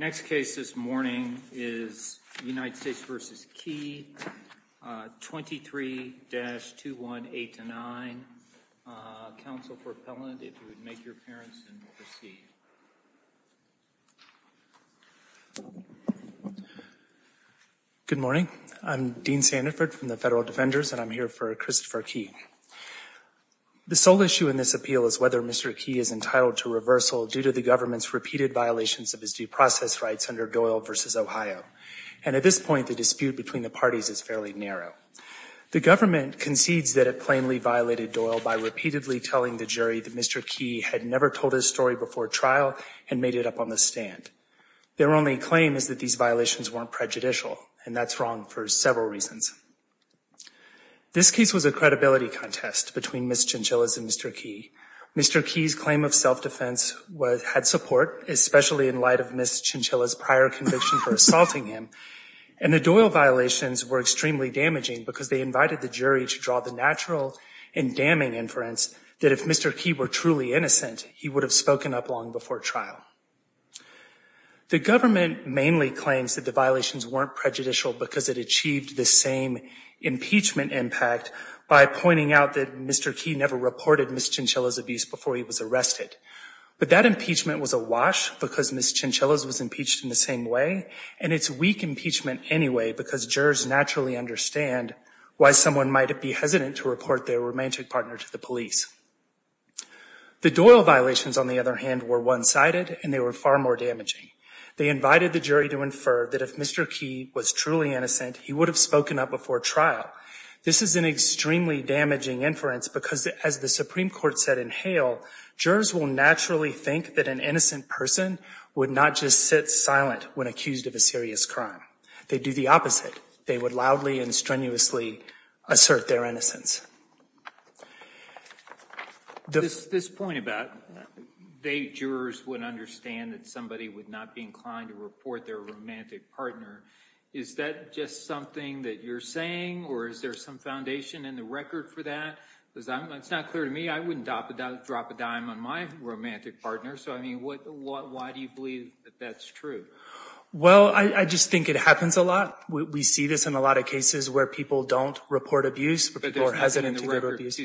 23-2189. Counsel for appellant, if you would make your appearance and we'll proceed. Good morning. I'm Dean Sandiford from the Federal Defenders and I'm here for Christopher Kee. The sole issue in this appeal is whether Mr. Kee is entitled to reversal due to the government's repeated violations of his due process rights under Doyle v. Ohio. And at this point the dispute between the parties is fairly narrow. The government concedes that it plainly violated Doyle by repeatedly telling the jury that Mr. Kee had never told his story before trial and made it up on the stand. Their only claim is that these violations weren't prejudicial and that's wrong for several reasons. This case was a credibility contest between Ms. Chinchilla and Mr. Kee. Mr. Kee's claim of self-defense had support, especially in light of Ms. Chinchilla's prior conviction for assaulting him. And the Doyle violations were extremely damaging because they invited the jury to draw the natural and damning inference that if Mr. Kee were truly innocent, he would have spoken up long before trial. The government mainly claims that the violations weren't prejudicial because it achieved the same impeachment impact by pointing out that Mr. Kee never reported Ms. Chinchilla's abuse before he was arrested. But that impeachment was a wash because Ms. Chinchilla's was impeached in the same way and it's weak impeachment anyway because jurors naturally understand why someone might be hesitant to report their romantic partner to the police. The Doyle violations, on the other hand, were one-sided and they were far more damaging. They invited the jury to infer that if Mr. Kee was truly innocent, he would have spoken up before trial. This is an extremely damaging inference because, as the Supreme Court said in Hale, jurors will naturally think that an innocent person would not just sit silent when accused of a serious crime. They do the opposite. They would loudly and strenuously assert their innocence. This point about jurors would understand that somebody would not be inclined to report their romantic partner. Is that just something that you're saying or is there some foundation in the record for that? It's not clear to me. I wouldn't drop a dime on my romantic partner. So, I mean, why do you believe that that's true? Well, I just think it happens a lot. We see this in a lot of cases where people don't report abuse or are hesitant to report abuse.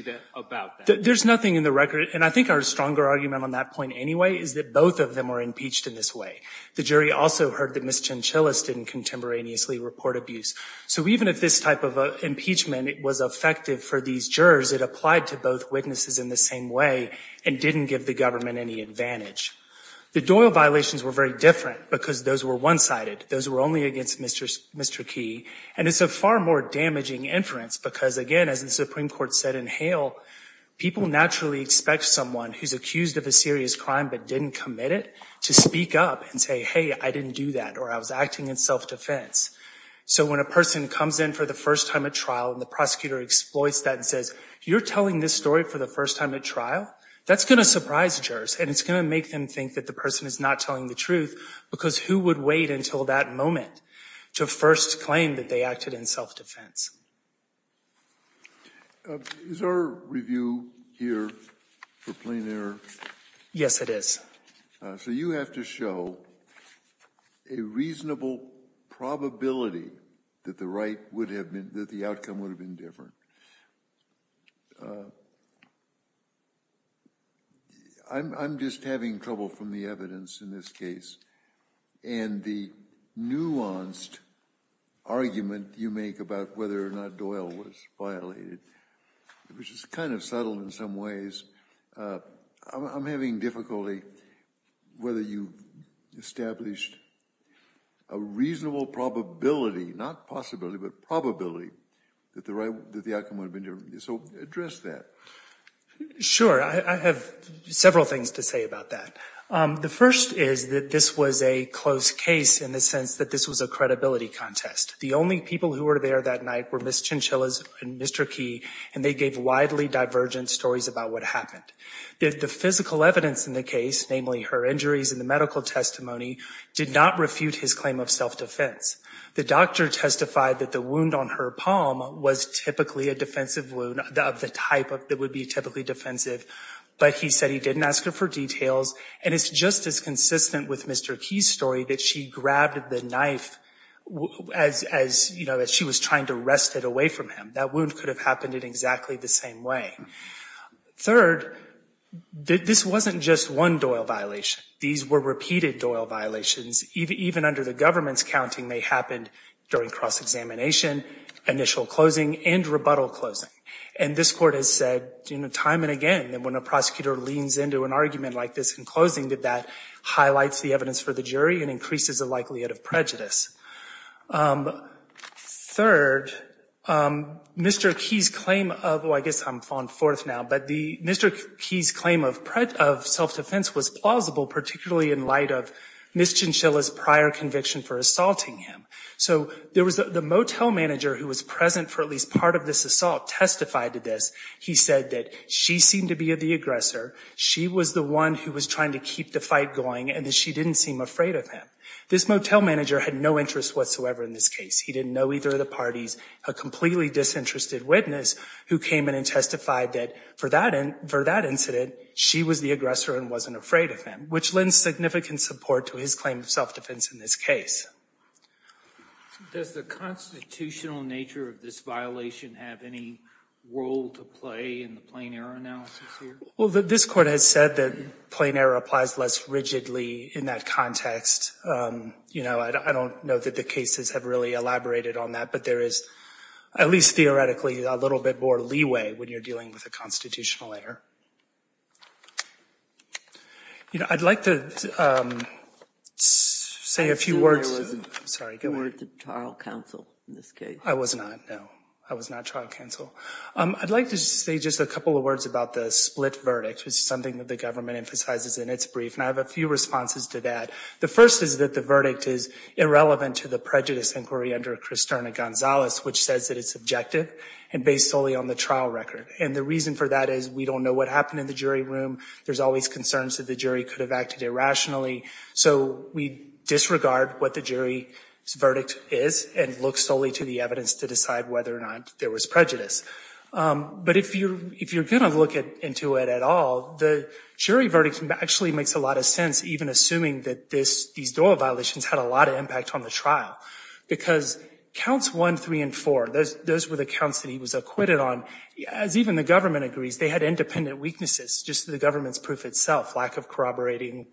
There's nothing in the record, and I think our stronger argument on that point anyway is that both of them were impeached in this way. The jury also heard that Ms. Chinchillas didn't contemporaneously report abuse. So even if this type of impeachment was effective for these jurors, it applied to both witnesses in the same way and didn't give the government any advantage. The Doyle violations were very different because those were one-sided. Those were only against Mr. Kee. And it's a far more damaging inference because, again, as the Supreme Court said in Hale, people naturally expect someone who's accused of a serious crime but didn't commit it to speak up and say, hey, I didn't do that, or I was acting in self-defense. So when a person comes in for the first time at trial and the prosecutor exploits that and says, you're telling this story for the first time at trial, that's going to surprise jurors, and it's going to make them think that the person is not telling the truth because who would wait until that moment to first claim that they acted in self-defense? Is our review here for plain error? Yes, it is. So you have to show a reasonable probability that the outcome would have been different. I'm just having trouble from the evidence in this case. And the nuanced argument you make about whether or not Doyle was violated, which is kind of subtle in some ways, I'm having difficulty whether you established a reasonable probability, not possibility, but probability, that the outcome would have been different. So address that. Sure. I have several things to say about that. The first is that this was a close case in the sense that this was a credibility contest. The only people who were there that night were Ms. Chinchillas and Mr. Key, and they gave widely divergent stories about what happened. The physical evidence in the case, namely her injuries and the medical testimony, did not refute his claim of self-defense. The doctor testified that the wound on her palm was typically a defensive wound of the type that would be typically defensive, but he said he didn't ask her for details. And it's just as consistent with Mr. Key's story that she grabbed the knife as she was trying to wrest it away from him. That wound could have happened in exactly the same way. Third, this wasn't just one Doyle violation. These were repeated Doyle violations. Even under the government's counting, they happened during cross-examination, initial closing, and rebuttal closing. And this Court has said time and again that when a prosecutor leans into an argument like this in closing, that highlights the evidence for the jury and increases the likelihood of prejudice. Third, Mr. Key's claim of—well, I guess I'm on fourth now—but Mr. Key's claim of self-defense was plausible, particularly in light of Ms. Chinchillas' prior conviction for assaulting him. So there was—the motel manager who was present for at least part of this assault testified to this. He said that she seemed to be the aggressor. She was the one who was trying to keep the fight going and that she didn't seem afraid of him. This motel manager had no interest whatsoever in this case. He didn't know either of the parties. A completely disinterested witness who came in and testified that for that incident, she was the aggressor and wasn't afraid of him, which lends significant support to his claim of self-defense in this case. Does the constitutional nature of this violation have any role to play in the plain error analysis here? Well, this Court has said that plain error applies less rigidly in that context. You know, I don't know that the cases have really elaborated on that, but there is, at least theoretically, a little bit more leeway when you're dealing with a constitutional error. You know, I'd like to say a few words— I assume there was no trial counsel in this case. I was not, no. I was not trial counsel. I'd like to say just a couple of words about the split verdict, which is something that the government emphasizes in its brief, and I have a few responses to that. The first is that the verdict is irrelevant to the prejudice inquiry under Kristerna Gonzalez, which says that it's subjective and based solely on the trial record. And the reason for that is we don't know what happened in the jury room. There's always concerns that the jury could have acted irrationally. So we disregard what the jury's verdict is and look solely to the evidence to decide whether or not there was prejudice. But if you're going to look into it at all, the jury verdict actually makes a lot of sense, even assuming that these Doyle violations had a lot of impact on the trial. Because Counts 1, 3, and 4, those were the counts that he was acquitted on. As even the government agrees, they had independent weaknesses, just the government's proof itself, lack of corroborating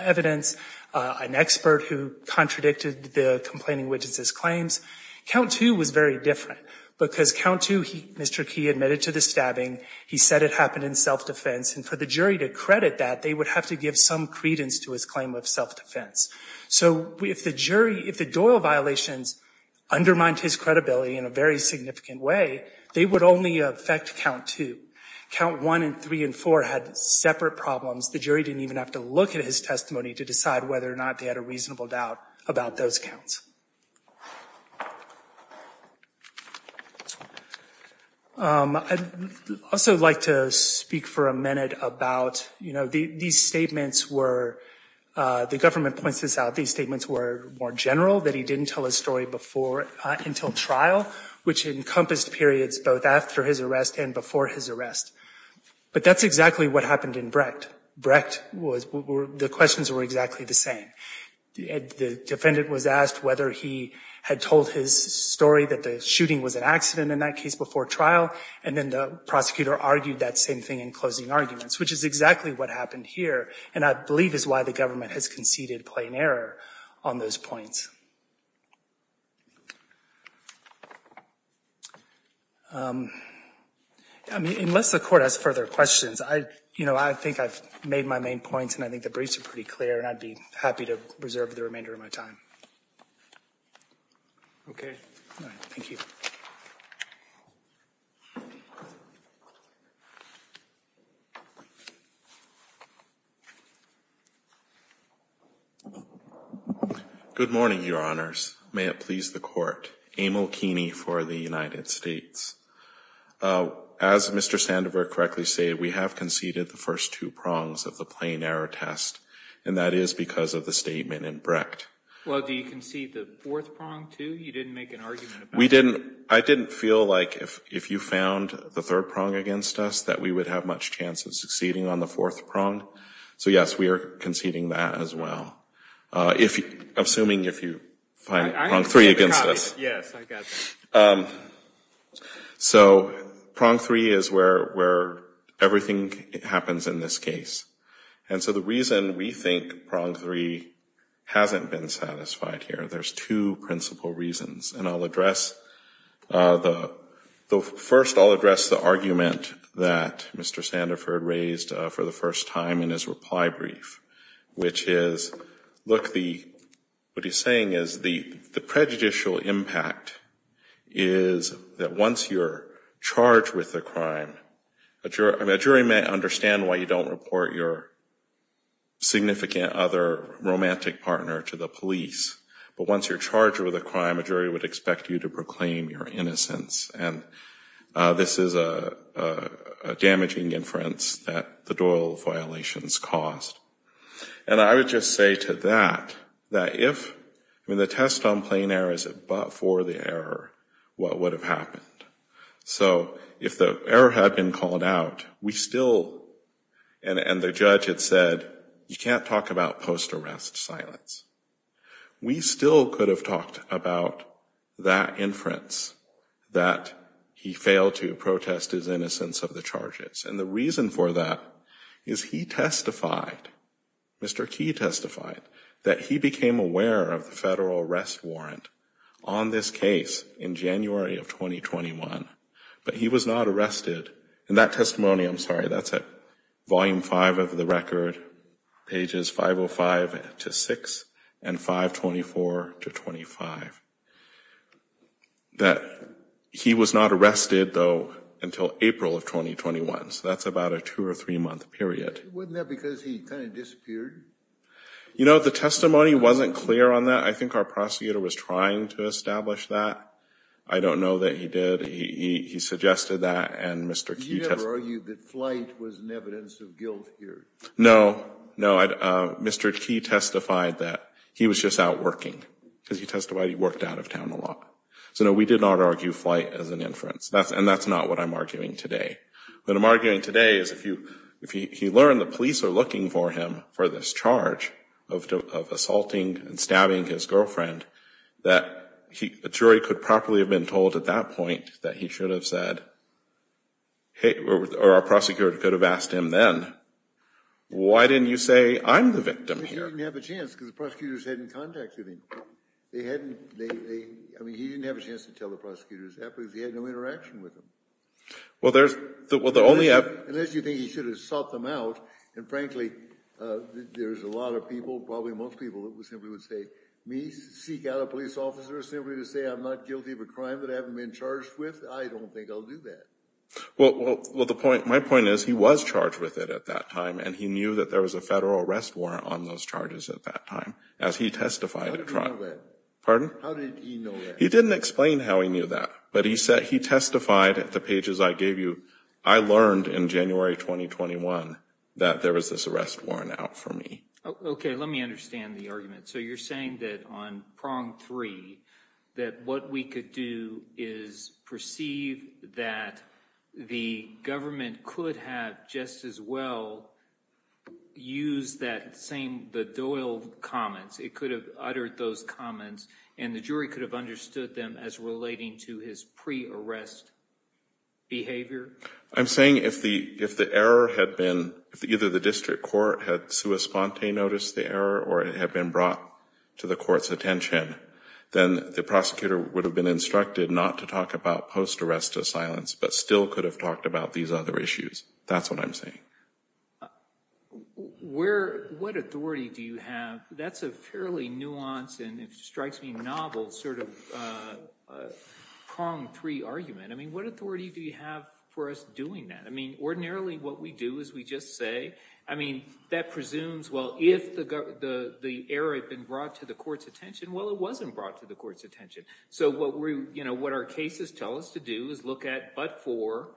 evidence, an expert who contradicted the complaining witnesses' claims. Count 2 was very different, because Count 2, Mr. Key admitted to the stabbing. He said it happened in self-defense. And for the jury to credit that, they would have to give some credence to his claim of self-defense. So if the Doyle violations undermined his credibility in a very significant way, they would only affect Count 2. Count 1 and 3 and 4 had separate problems. The jury didn't even have to look at his testimony to decide whether or not they had a reasonable doubt about those counts. I'd also like to speak for a minute about, you know, these statements were, the government points this out, these statements were more general, that he didn't tell his story before, until trial, which encompassed periods both after his arrest and before his arrest. But that's exactly what happened in Brecht. The questions were exactly the same. The defendant was asked whether he had told his story that the shooting was an accident in that case before trial, and then the prosecutor argued that same thing in closing arguments, which is exactly what happened here, and I believe is why the government has conceded plain error on those points. I mean, unless the court has further questions, I, you know, I think I've made my main points, and I think the briefs are pretty clear, and I'd be happy to reserve the remainder of my time. Okay. All right. Thank you. Good morning, Your Honors. May it please the Court. Emil Keeney for the United States. As Mr. Sandover correctly said, we have conceded the first two prongs of the plain error test, and that is because of the statement in Brecht. Well, do you concede the fourth prong, too? You didn't make an argument about it. We didn't. I didn't feel like if you found the third prong against us that we would have much chance of succeeding on the fourth prong. So, yes, we are conceding that as well, assuming if you find prong three against us. Yes, I got that. So prong three is where everything happens in this case, and so the reason we think prong three hasn't been satisfied here, there's two principal reasons, and I'll address the first, I'll address the argument that Mr. Sandover raised for the first time in his reply brief, which is, look, what he's saying is the prejudicial impact is that once you're charged with a crime, a jury may understand why you don't report your significant other romantic partner to the police, but once you're charged with a crime, a jury would expect you to proclaim your innocence, and this is a damaging inference that the Doyle violations caused. And I would just say to that, that if, I mean, the test on plain error is that but for the error, what would have happened? So if the error had been called out, we still, and the judge had said, you can't talk about post-arrest silence. We still could have talked about that inference, that he failed to protest his innocence of the charges, and the reason for that is he testified, Mr. Key testified, that he became aware of the federal arrest warrant on this case in January of 2021, but he was not arrested, though, until April of 2021, so that's about a two or three-month period. You know, the testimony wasn't clear on that. I think our prosecutor was trying to establish that. I don't know that he did. He suggested that, and Mr. Key testified. No, no, Mr. Key testified that he was just out working, because he testified he worked out of town a lot. So, no, we did not argue flight as an inference, and that's not what I'm arguing today. What I'm arguing today is if you learn the police are looking for him for this charge of assaulting and stabbing his girlfriend, that a jury could properly have been told at that point that he should have said, hey, or our prosecutor should have said, hey, or our prosecutor could have asked him then. Why didn't you say, I'm the victim here? He didn't have a chance, because the prosecutors hadn't contacted him. They hadn't, they, I mean, he didn't have a chance to tell the prosecutors that, because he had no interaction with them. Well, there's, well, the only... Unless you think he should have sought them out, and frankly, there's a lot of people, probably most people, that simply would say, me, seek out a police officer simply to say I'm not guilty of a crime that I haven't been charged with? I don't think I'll do that. Well, the point, my point is, he was charged with it at that time, and he knew that there was a federal arrest warrant on those charges at that time, as he testified... How did he know that? Pardon? How did he know that? He didn't explain how he knew that, but he said, he testified at the pages I gave you, I learned in January 2021 that there was this arrest warrant out for me. Okay, let me understand the argument. So you're saying that on prong three, that what we could do is perceive that the government could have just as well used that same, the Doyle comments, it could have uttered those comments, and the jury could have understood them as relating to his pre-arrest behavior? I'm saying if the error had been, if either the district court had sui sponte noticed the error, or it had been brought to the court's attention, then the prosecutor would have been instructed not to talk about post-arrest to silence, but still could have talked about these other issues. That's what I'm saying. Where, what authority do you have? That's a fairly nuanced, and it strikes me novel, sort of prong three argument. I mean, what authority do you have for us doing that? I mean, ordinarily what we do is we just say, I mean, that presumes, well, if the error had been brought to the court's attention, well, it wasn't brought to the court's attention. So what we, you know, what our cases tell us to do is look at, but for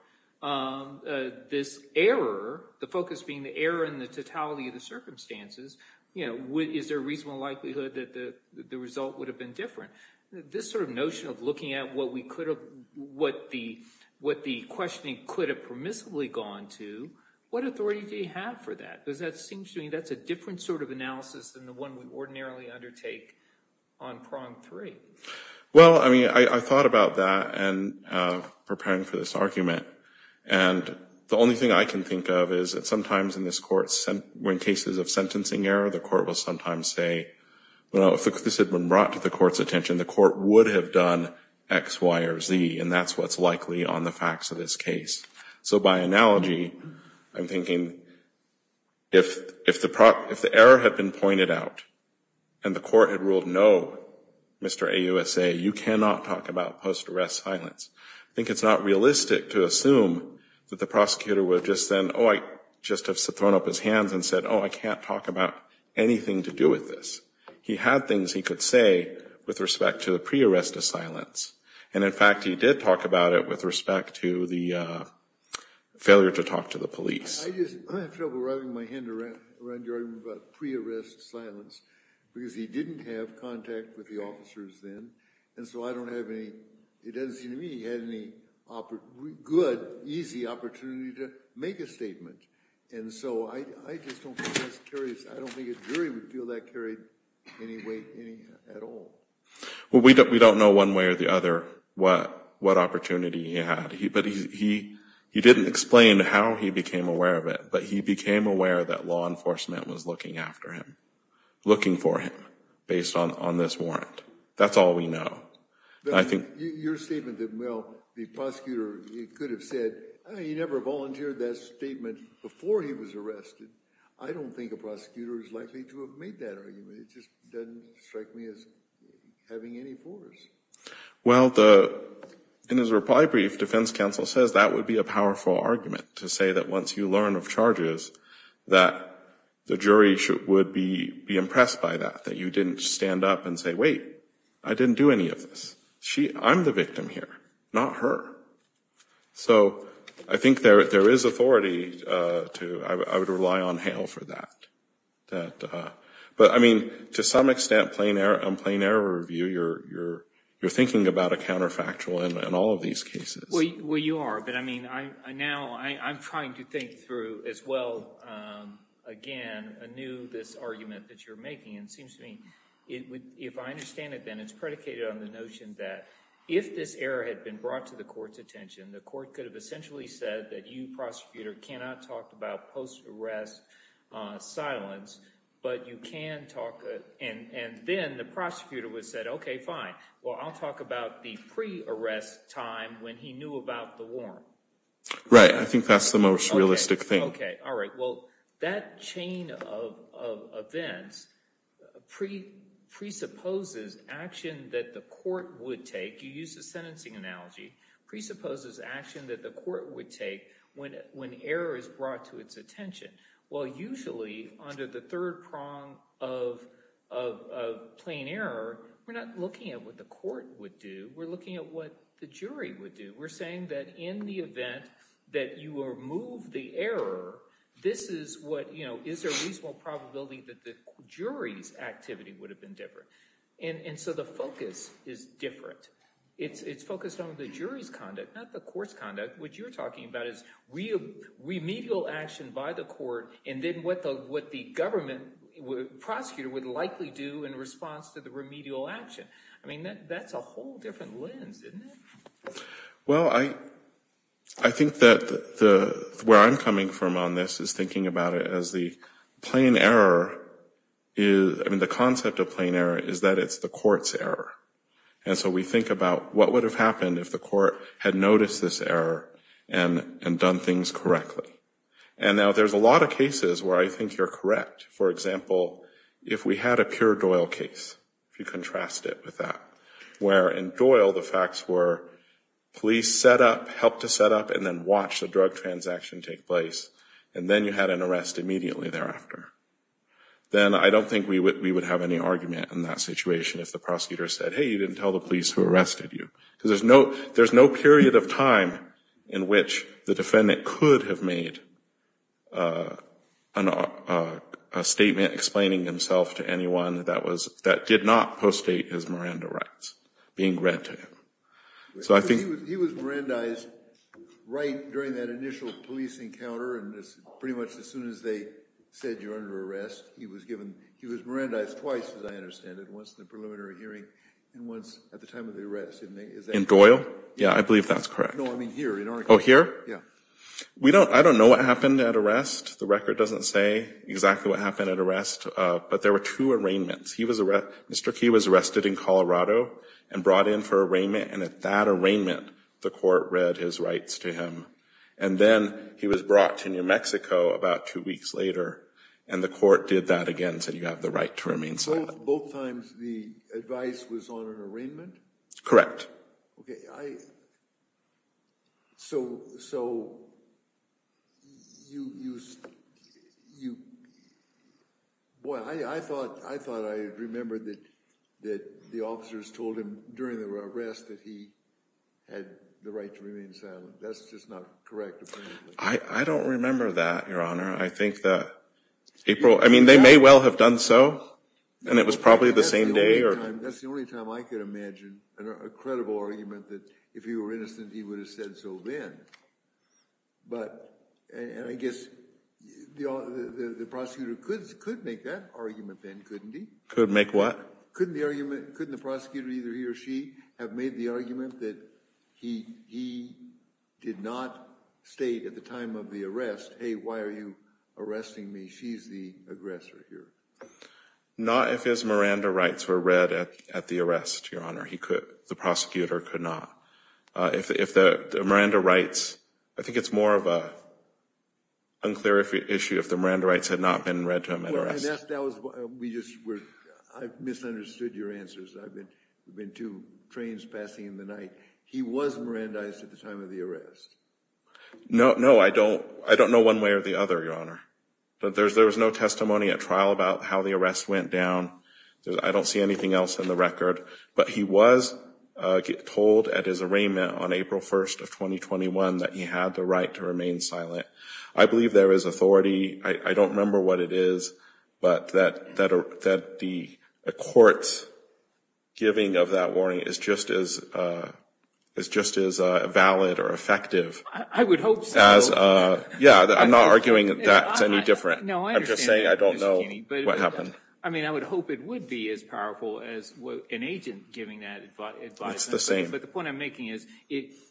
this error, the focus being the error in the totality of the circumstances, you know, is there a reasonable likelihood that the result would have been different? This sort of notion of looking at what we could have, what the questioning could have permissibly gone to, what authority do you have for that? Because that seems to me that's a different sort of analysis than the one we ordinarily undertake on prong three. Well, I mean, I thought about that in preparing for this argument, and the only thing I can think of is that sometimes in this court, when cases of sentencing error, the court will sometimes say, well, if this had been brought to the court's attention, the court would have done X, Y, or Z, and that's what's likely on the facts of this case. So by analogy, I'm thinking, if the error had been pointed out and the court had ruled no, Mr. AUSA, you cannot talk about post-arrest silence. I think it's not realistic to assume that the prosecutor would have just then, oh, I can't talk about anything to do with this. He had things he could say with respect to the pre-arrest of silence, and in fact, he did talk about it with respect to the failure to talk to the police. I have trouble writhing my hand around your argument about pre-arrest silence, because he didn't have contact with the officers then, and so I don't have any, it doesn't seem to give me the opportunity to make a statement, and so I just don't think that's curious. I don't think a jury would feel that carried any way at all. Well, we don't know one way or the other what opportunity he had, but he didn't explain how he became aware of it, but he became aware that law enforcement was looking after him, looking for him, based on this warrant. That's all we know. Your statement that, well, the prosecutor could have said, he never volunteered that statement before he was arrested, I don't think a prosecutor is likely to have made that argument. It just doesn't strike me as having any force. Well, in his reply brief, defense counsel says that would be a powerful argument, to say that once you learn of charges, that the jury would be impressed by that, that you didn't stand up and say, wait, I didn't do any of this. I'm the victim here, not her. So I think there is authority to, I would rely on Hale for that. But I mean, to some extent, on plain error review, you're thinking about a counterfactual in all of these cases. Well, you are, but I mean, now I'm trying to think through as well, again, anew this argument that you're making. And it seems to me, if I understand it then, it's predicated on the notion that if this error had been brought to the court's attention, the court could have essentially said that you, prosecutor, cannot talk about post-arrest silence, but you can talk, and then the prosecutor would have said, OK, fine, well, I'll talk about the pre-arrest time when he knew about the warrant. Right. I think that's the most realistic thing. OK. All right. Well, that chain of events presupposes action that the court would take. You used the sentencing analogy. Presupposes action that the court would take when error is brought to its attention. Well, usually, under the third prong of plain error, we're not looking at what the court would do. We're looking at what the jury would do. We're saying that in the event that you remove the error, is there a reasonable probability that the jury's activity would have been different? And so the focus is different. It's focused on the jury's conduct, not the court's conduct. What you're talking about is remedial action by the court, and then what the government prosecutor would likely do in response to the remedial action. I mean, that's a whole different lens, isn't it? Well, I think that where I'm coming from on this is thinking about it as the plain error is, I mean, the concept of plain error is that it's the court's error. And so we think about what would have happened if the court had noticed this error and done things correctly. And now there's a lot of cases where I think you're correct. For example, if we had a pure Doyle case, if you contrast it with that, where in Doyle the facts were police set up, helped to set up, and then watched the drug transaction take place, and then you had an arrest immediately thereafter, then I don't think we would have any argument in that situation if the prosecutor said, hey, you didn't tell the police who arrested you. Because there's no period of time in which the defendant could have made a statement explaining himself to anyone that did not postdate his Miranda rights being read to him. He was Mirandized right during that initial police encounter and pretty much as soon as they said you're under arrest, he was Mirandized twice, as I understand it, once in the preliminary hearing and once at the time of the arrest. In Doyle? Yeah, I believe that's correct. No, I mean here. Oh, here? Yeah. I don't know what happened at arrest. The record doesn't say exactly what happened at arrest, but there were two arraignments. Mr. Key was arrested in Colorado and brought in for arraignment, and at that arraignment the court read his rights to him. And then he was brought to New Mexico about two weeks later, and the court did that again and said you have the right to remain silent. So both times the advice was on an arraignment? Correct. Okay, I, so, so, you, you, you, boy, I thought, I thought I remembered that, that the officers told him during the arrest that he had the right to remain silent. That's just not correct, apparently. I don't remember that, Your Honor. I think that April, I mean they may well have done so, and it was probably the same day. That's the only time, that's the only time I could imagine a credible argument that if he were innocent he would have said so then. But, and I guess the prosecutor could, could make that argument then, couldn't he? Could make what? Couldn't the argument, couldn't the prosecutor, either he or she, have made the argument that he, he did not state at the time of the arrest, hey, why are you arresting me? She's the aggressor here. Not if his Miranda rights were read at the arrest, Your Honor. He could, the prosecutor could not. If the, if the Miranda rights, I think it's more of a unclear issue if the Miranda rights had not been read to him at arrest. That was, we just, we're, I've misunderstood your answers. I've been, we've been two trains passing in the night. He was Mirandized at the time of the arrest. No, no, I don't, I don't know one way or the other, Your Honor. But there's, there was no testimony at trial about how the arrest went down. I don't see anything else in the record. But he was told at his arraignment on April 1st of 2021 that he had the right to remain silent. I believe there is authority. I don't remember what it is. But that, that the court's giving of that warning is just as, is just as valid or effective. I would hope so. Yeah, I'm not arguing that it's any different. I'm just saying I don't know what happened. I mean, I would hope it would be as powerful as an agent giving that advice. That's the same. But the point I'm making is,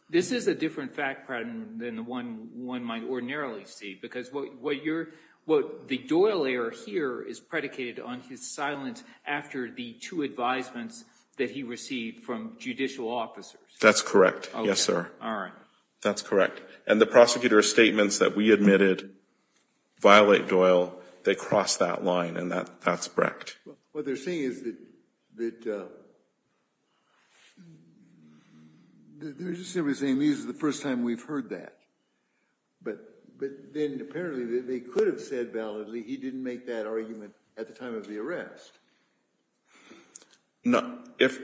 this is a different fact pattern than the one one might ordinarily see. Because what you're, what the Doyle error here is predicated on his silence after the two advisements that he received from judicial officers. That's correct. Yes, sir. All right. That's correct. And the prosecutor's statements that we admitted violate Doyle. They cross that line. And that, that's correct. What they're saying is that, that they're just simply saying this is the first time we've heard that. But, but then apparently they could have said validly he didn't make that argument at the time of the arrest. No. If,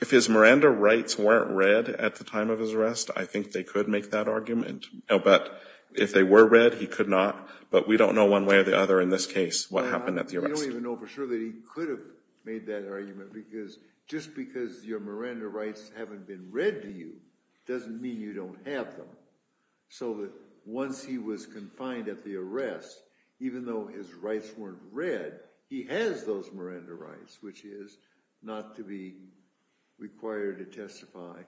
if his Miranda rights weren't read at the time of his arrest, I think they could make that argument. But if they were read, he could not. But we don't know one way or the other in this case what happened at the arrest. We don't even know for sure that he could have made that argument. Because just because your Miranda rights haven't been read to you, doesn't mean you don't have them. So that once he was confined at the arrest, even though his rights weren't read, he has those Miranda rights, which is not to be required to testify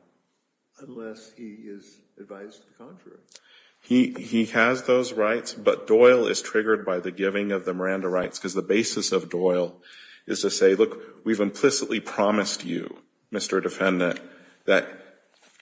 unless he is advised to confer it. He, he has those rights, but Doyle is triggered by the giving of the Miranda rights. Because the basis of Doyle is to say, look, we've implicitly promised you, Mr. Defendant, that,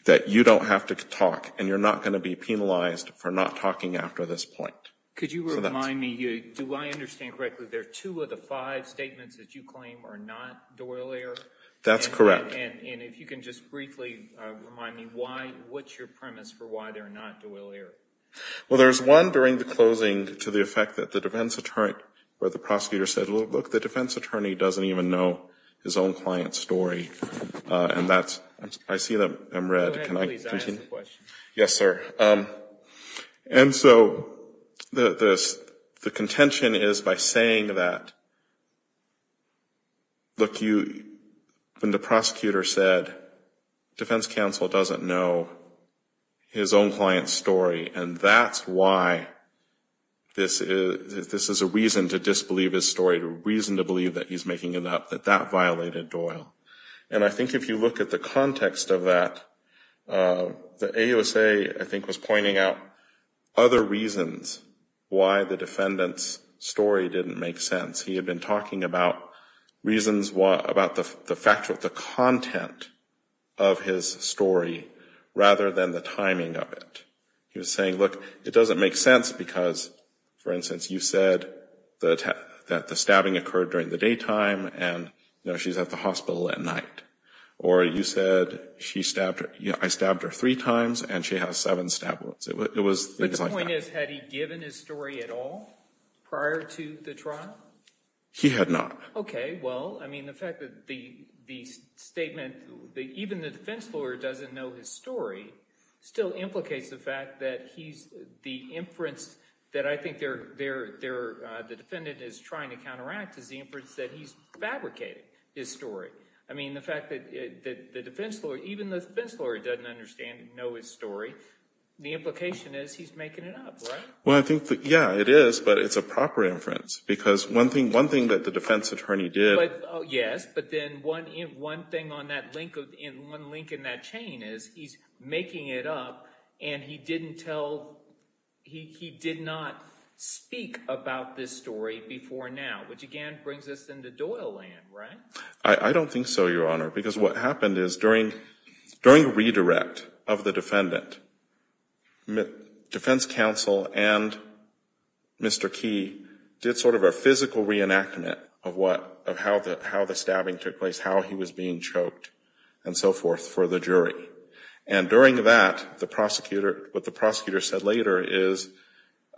that you don't have to talk and you're not going to be penalized for not talking after this point. Could you remind me, do I understand correctly, there are two of the five statements that you claim are not Doyle-era? That's correct. And, and if you can just briefly remind me why, what's your premise for why they're not Doyle-era? Well, there's one during the closing to the effect that the defense attorney or the prosecutor said, look, the defense attorney doesn't even know his own client's story. And that's, I see them, I'm read. Can I continue? Yes, sir. And so the, the contention is by saying that, look, you, when the prosecutor said, defense counsel doesn't know his own client's story, and that's why this is, this is a reason to disbelieve his story, a reason to believe that he's making it up, that that violated Doyle. And I think if you look at the context of that, the AUSA, I think, was pointing out other reasons why the defendant's story didn't make sense. He had been talking about reasons, about the factual, the content of his story rather than the timing of it. He was saying, look, it doesn't make sense because, for instance, you said that the stabbing occurred during the daytime and, you know, she's at the hospital at night. Or you said she stabbed her, I stabbed her three times and she has seven stab wounds. It was things like that. The point is, had he given his story at all prior to the trial? He had not. Okay, well, I mean, the fact that the statement, even the defense lawyer doesn't know his story still implicates the fact that he's, the inference that I think the defendant is trying to counteract is the inference that he's fabricated his story. I mean, the fact that the defense lawyer, even the defense lawyer doesn't understand and know his story, the implication is he's making it up, right? Well, I think, yeah, it is, but it's a proper inference because one thing that the defense attorney did. Yes, but then one thing on that link, one link in that chain is he's making it up and he didn't tell, he did not speak about this story before now, which again brings us into Doyle land, right? I don't think so, Your Honor, because what happened is during the redirect of the defendant, defense counsel and Mr. Key did sort of a physical reenactment of what, of how the stabbing took place, how he was being choked and so forth for the jury. And during that, the prosecutor, what the prosecutor said later is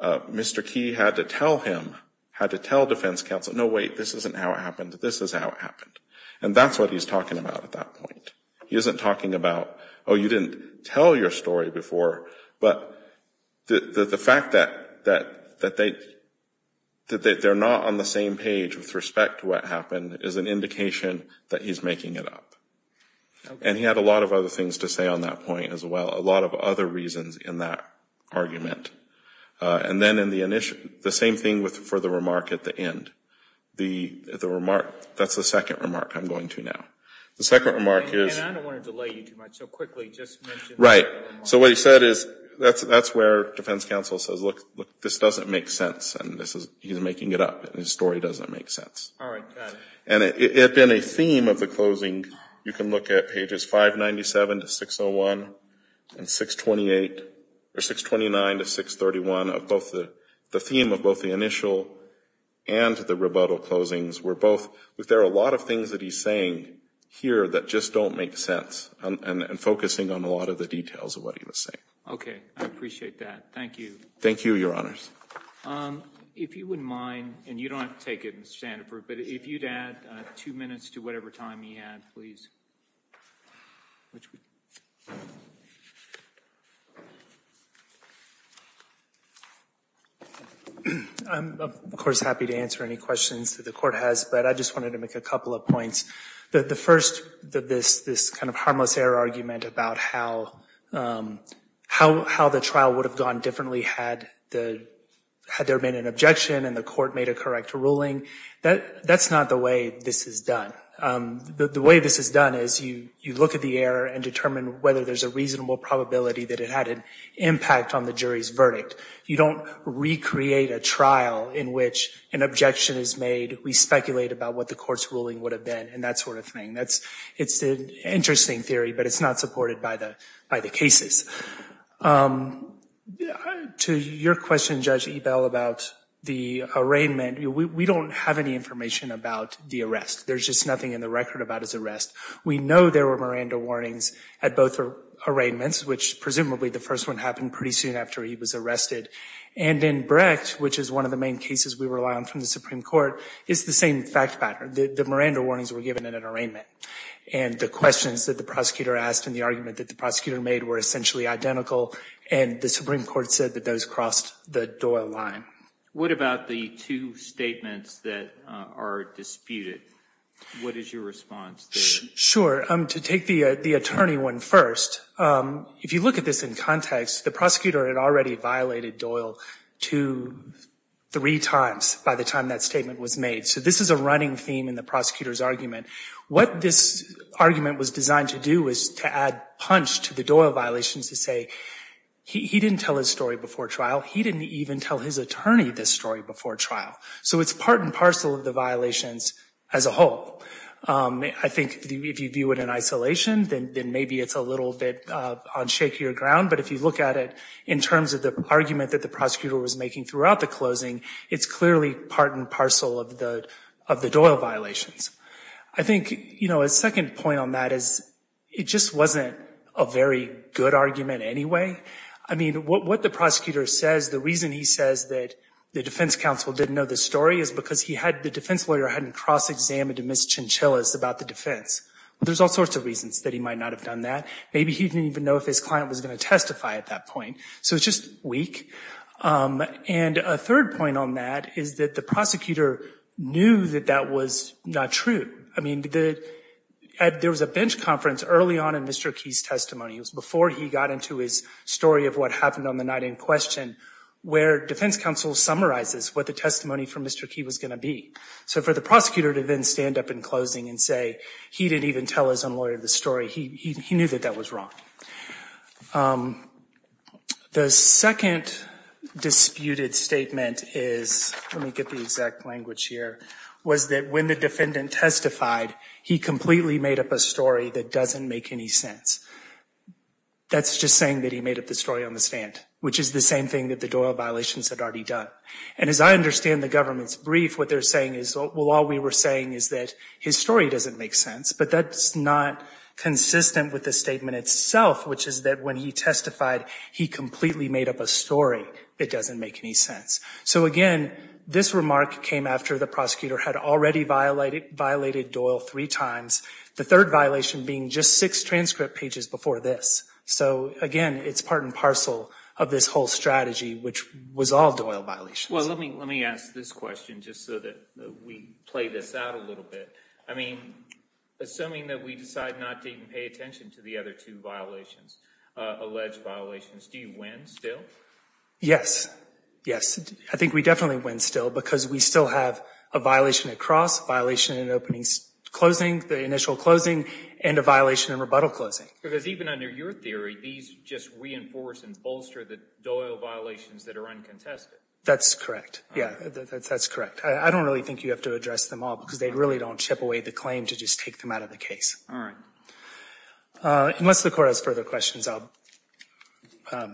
Mr. Key had to tell him, had to tell defense counsel, no, wait, this isn't how it happened, this is how it happened. And that's what he's talking about at that point. He isn't talking about, oh, you didn't tell your story before, but the fact that they, that they're not on the same page with respect to what happened is an indication that he's making it up. And he had a lot of other things to say on that point as well, a lot of other reasons in that argument. And then in the initial, the same thing for the remark at the end. The remark, that's the second remark I'm going to now. The second remark is. And I don't want to delay you too much, so quickly just mention the second remark. Right. So what he said is, that's where defense counsel says, look, this doesn't make sense and this is, he's making it up and his story doesn't make sense. All right, got it. And it had been a theme of the closing, you can look at pages 597 to 601 and 628, or 629 to 631, of both the, the theme of both the initial and the rebuttal closings were both, there are a lot of things that he's saying here that just don't make sense. And focusing on a lot of the details of what he was saying. Okay. I appreciate that. Thank you. Thank you, Your Honors. If you wouldn't mind, and you don't have to take it, Mr. Standifird, but if you'd add two minutes to whatever time you had, please. I'm, of course, happy to answer any questions that the court has, but I just wanted to make a couple of points. The first, this kind of harmless error argument about how, how the trial would have gone differently had the, had there been an objection and the court made a correct ruling, that's not the way this is done. The way this is done is that the trial would have gone differently is you look at the error and determine whether there's a reasonable probability that it had an impact on the jury's verdict. You don't recreate a trial in which an objection is made. We speculate about what the court's ruling would have been and that sort of thing. That's, it's an interesting theory, but it's not supported by the, by the cases. To your question, Judge Ebell, about the arraignment, we don't have any information about the arrest. There's just nothing in the record about his arrest. We know there were Miranda warnings at both arraignments, which presumably the first one happened pretty soon after he was arrested. And in Brecht, which is one of the main cases we rely on from the Supreme Court, it's the same fact pattern. The Miranda warnings were given at an arraignment, and the questions that the prosecutor asked and the argument that the prosecutor made were essentially identical, and the Supreme Court said that those crossed the Doyle line. What about the two statements that are disputed? What is your response to that? To take the attorney one first, if you look at this in context, the prosecutor had already violated Doyle two, three times by the time that statement was made. So this is a running theme in the prosecutor's argument. What this argument was designed to do was to add punch to the Doyle violations to say, he didn't tell his story before trial. He didn't even tell his attorney this story before trial. So it's part and parcel of the violations as a whole. I think if you view it in isolation, then maybe it's a little bit on shakier ground. But if you look at it in terms of the argument that the prosecutor was making throughout the closing, it's clearly part and parcel of the Doyle violations. I think, you know, a second point on that is it just wasn't a very good argument anyway. I mean, what the prosecutor says, the reason he says that the defense counsel didn't know the story is because the defense lawyer hadn't cross-examined Ms. Chinchillas about the defense. There's all sorts of reasons that he might not have done that. Maybe he didn't even know if his client was going to testify at that point. So it's just weak. And a third point on that is that the prosecutor knew that that was not true. I mean, there was a bench conference early on in Mr. Key's testimony. It was before he got into his story of what happened on the night in question where defense counsel summarizes what the testimony from Mr. Key was going to be. So for the prosecutor to then stand up in closing and say he didn't even tell his own lawyer the story, he knew that that was wrong. The second disputed statement is, let me get the exact language here, was that when the defendant testified, he completely made up a story that doesn't make any sense. That's just saying that he made up the story on the stand, which is the same thing that the Doyle violations had already done. And as I understand the government's brief, what they're saying is, well, all we were saying is that his story doesn't make sense, but that's not consistent with the statement itself, which is that when he testified, he completely made up a story that doesn't make any sense. So again, this remark came after the prosecutor had already violated Doyle three times, the third violation being just six transcript pages before this. So again, it's part and parcel of this whole strategy, which was all Doyle violations. Well, let me ask this question just so that we play this out a little bit. I mean, assuming that we decide not to even pay attention to the other two violations, alleged violations, do you win still? Yes. Yes. I think we definitely win still because we still have a violation at cross, violation in opening closing, the initial closing, and a violation in rebuttal closing. Because even under your theory, these just reinforce and bolster the Doyle violations that are uncontested. That's correct. Yeah, that's correct. I don't really think you have to address them all because they really don't chip away the claim to just take them out of the case. All right. Unless the court has further questions, I'll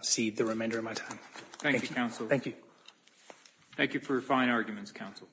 cede the remainder of my time. Thank you, counsel. Thank you. Thank you for your fine arguments, counsel.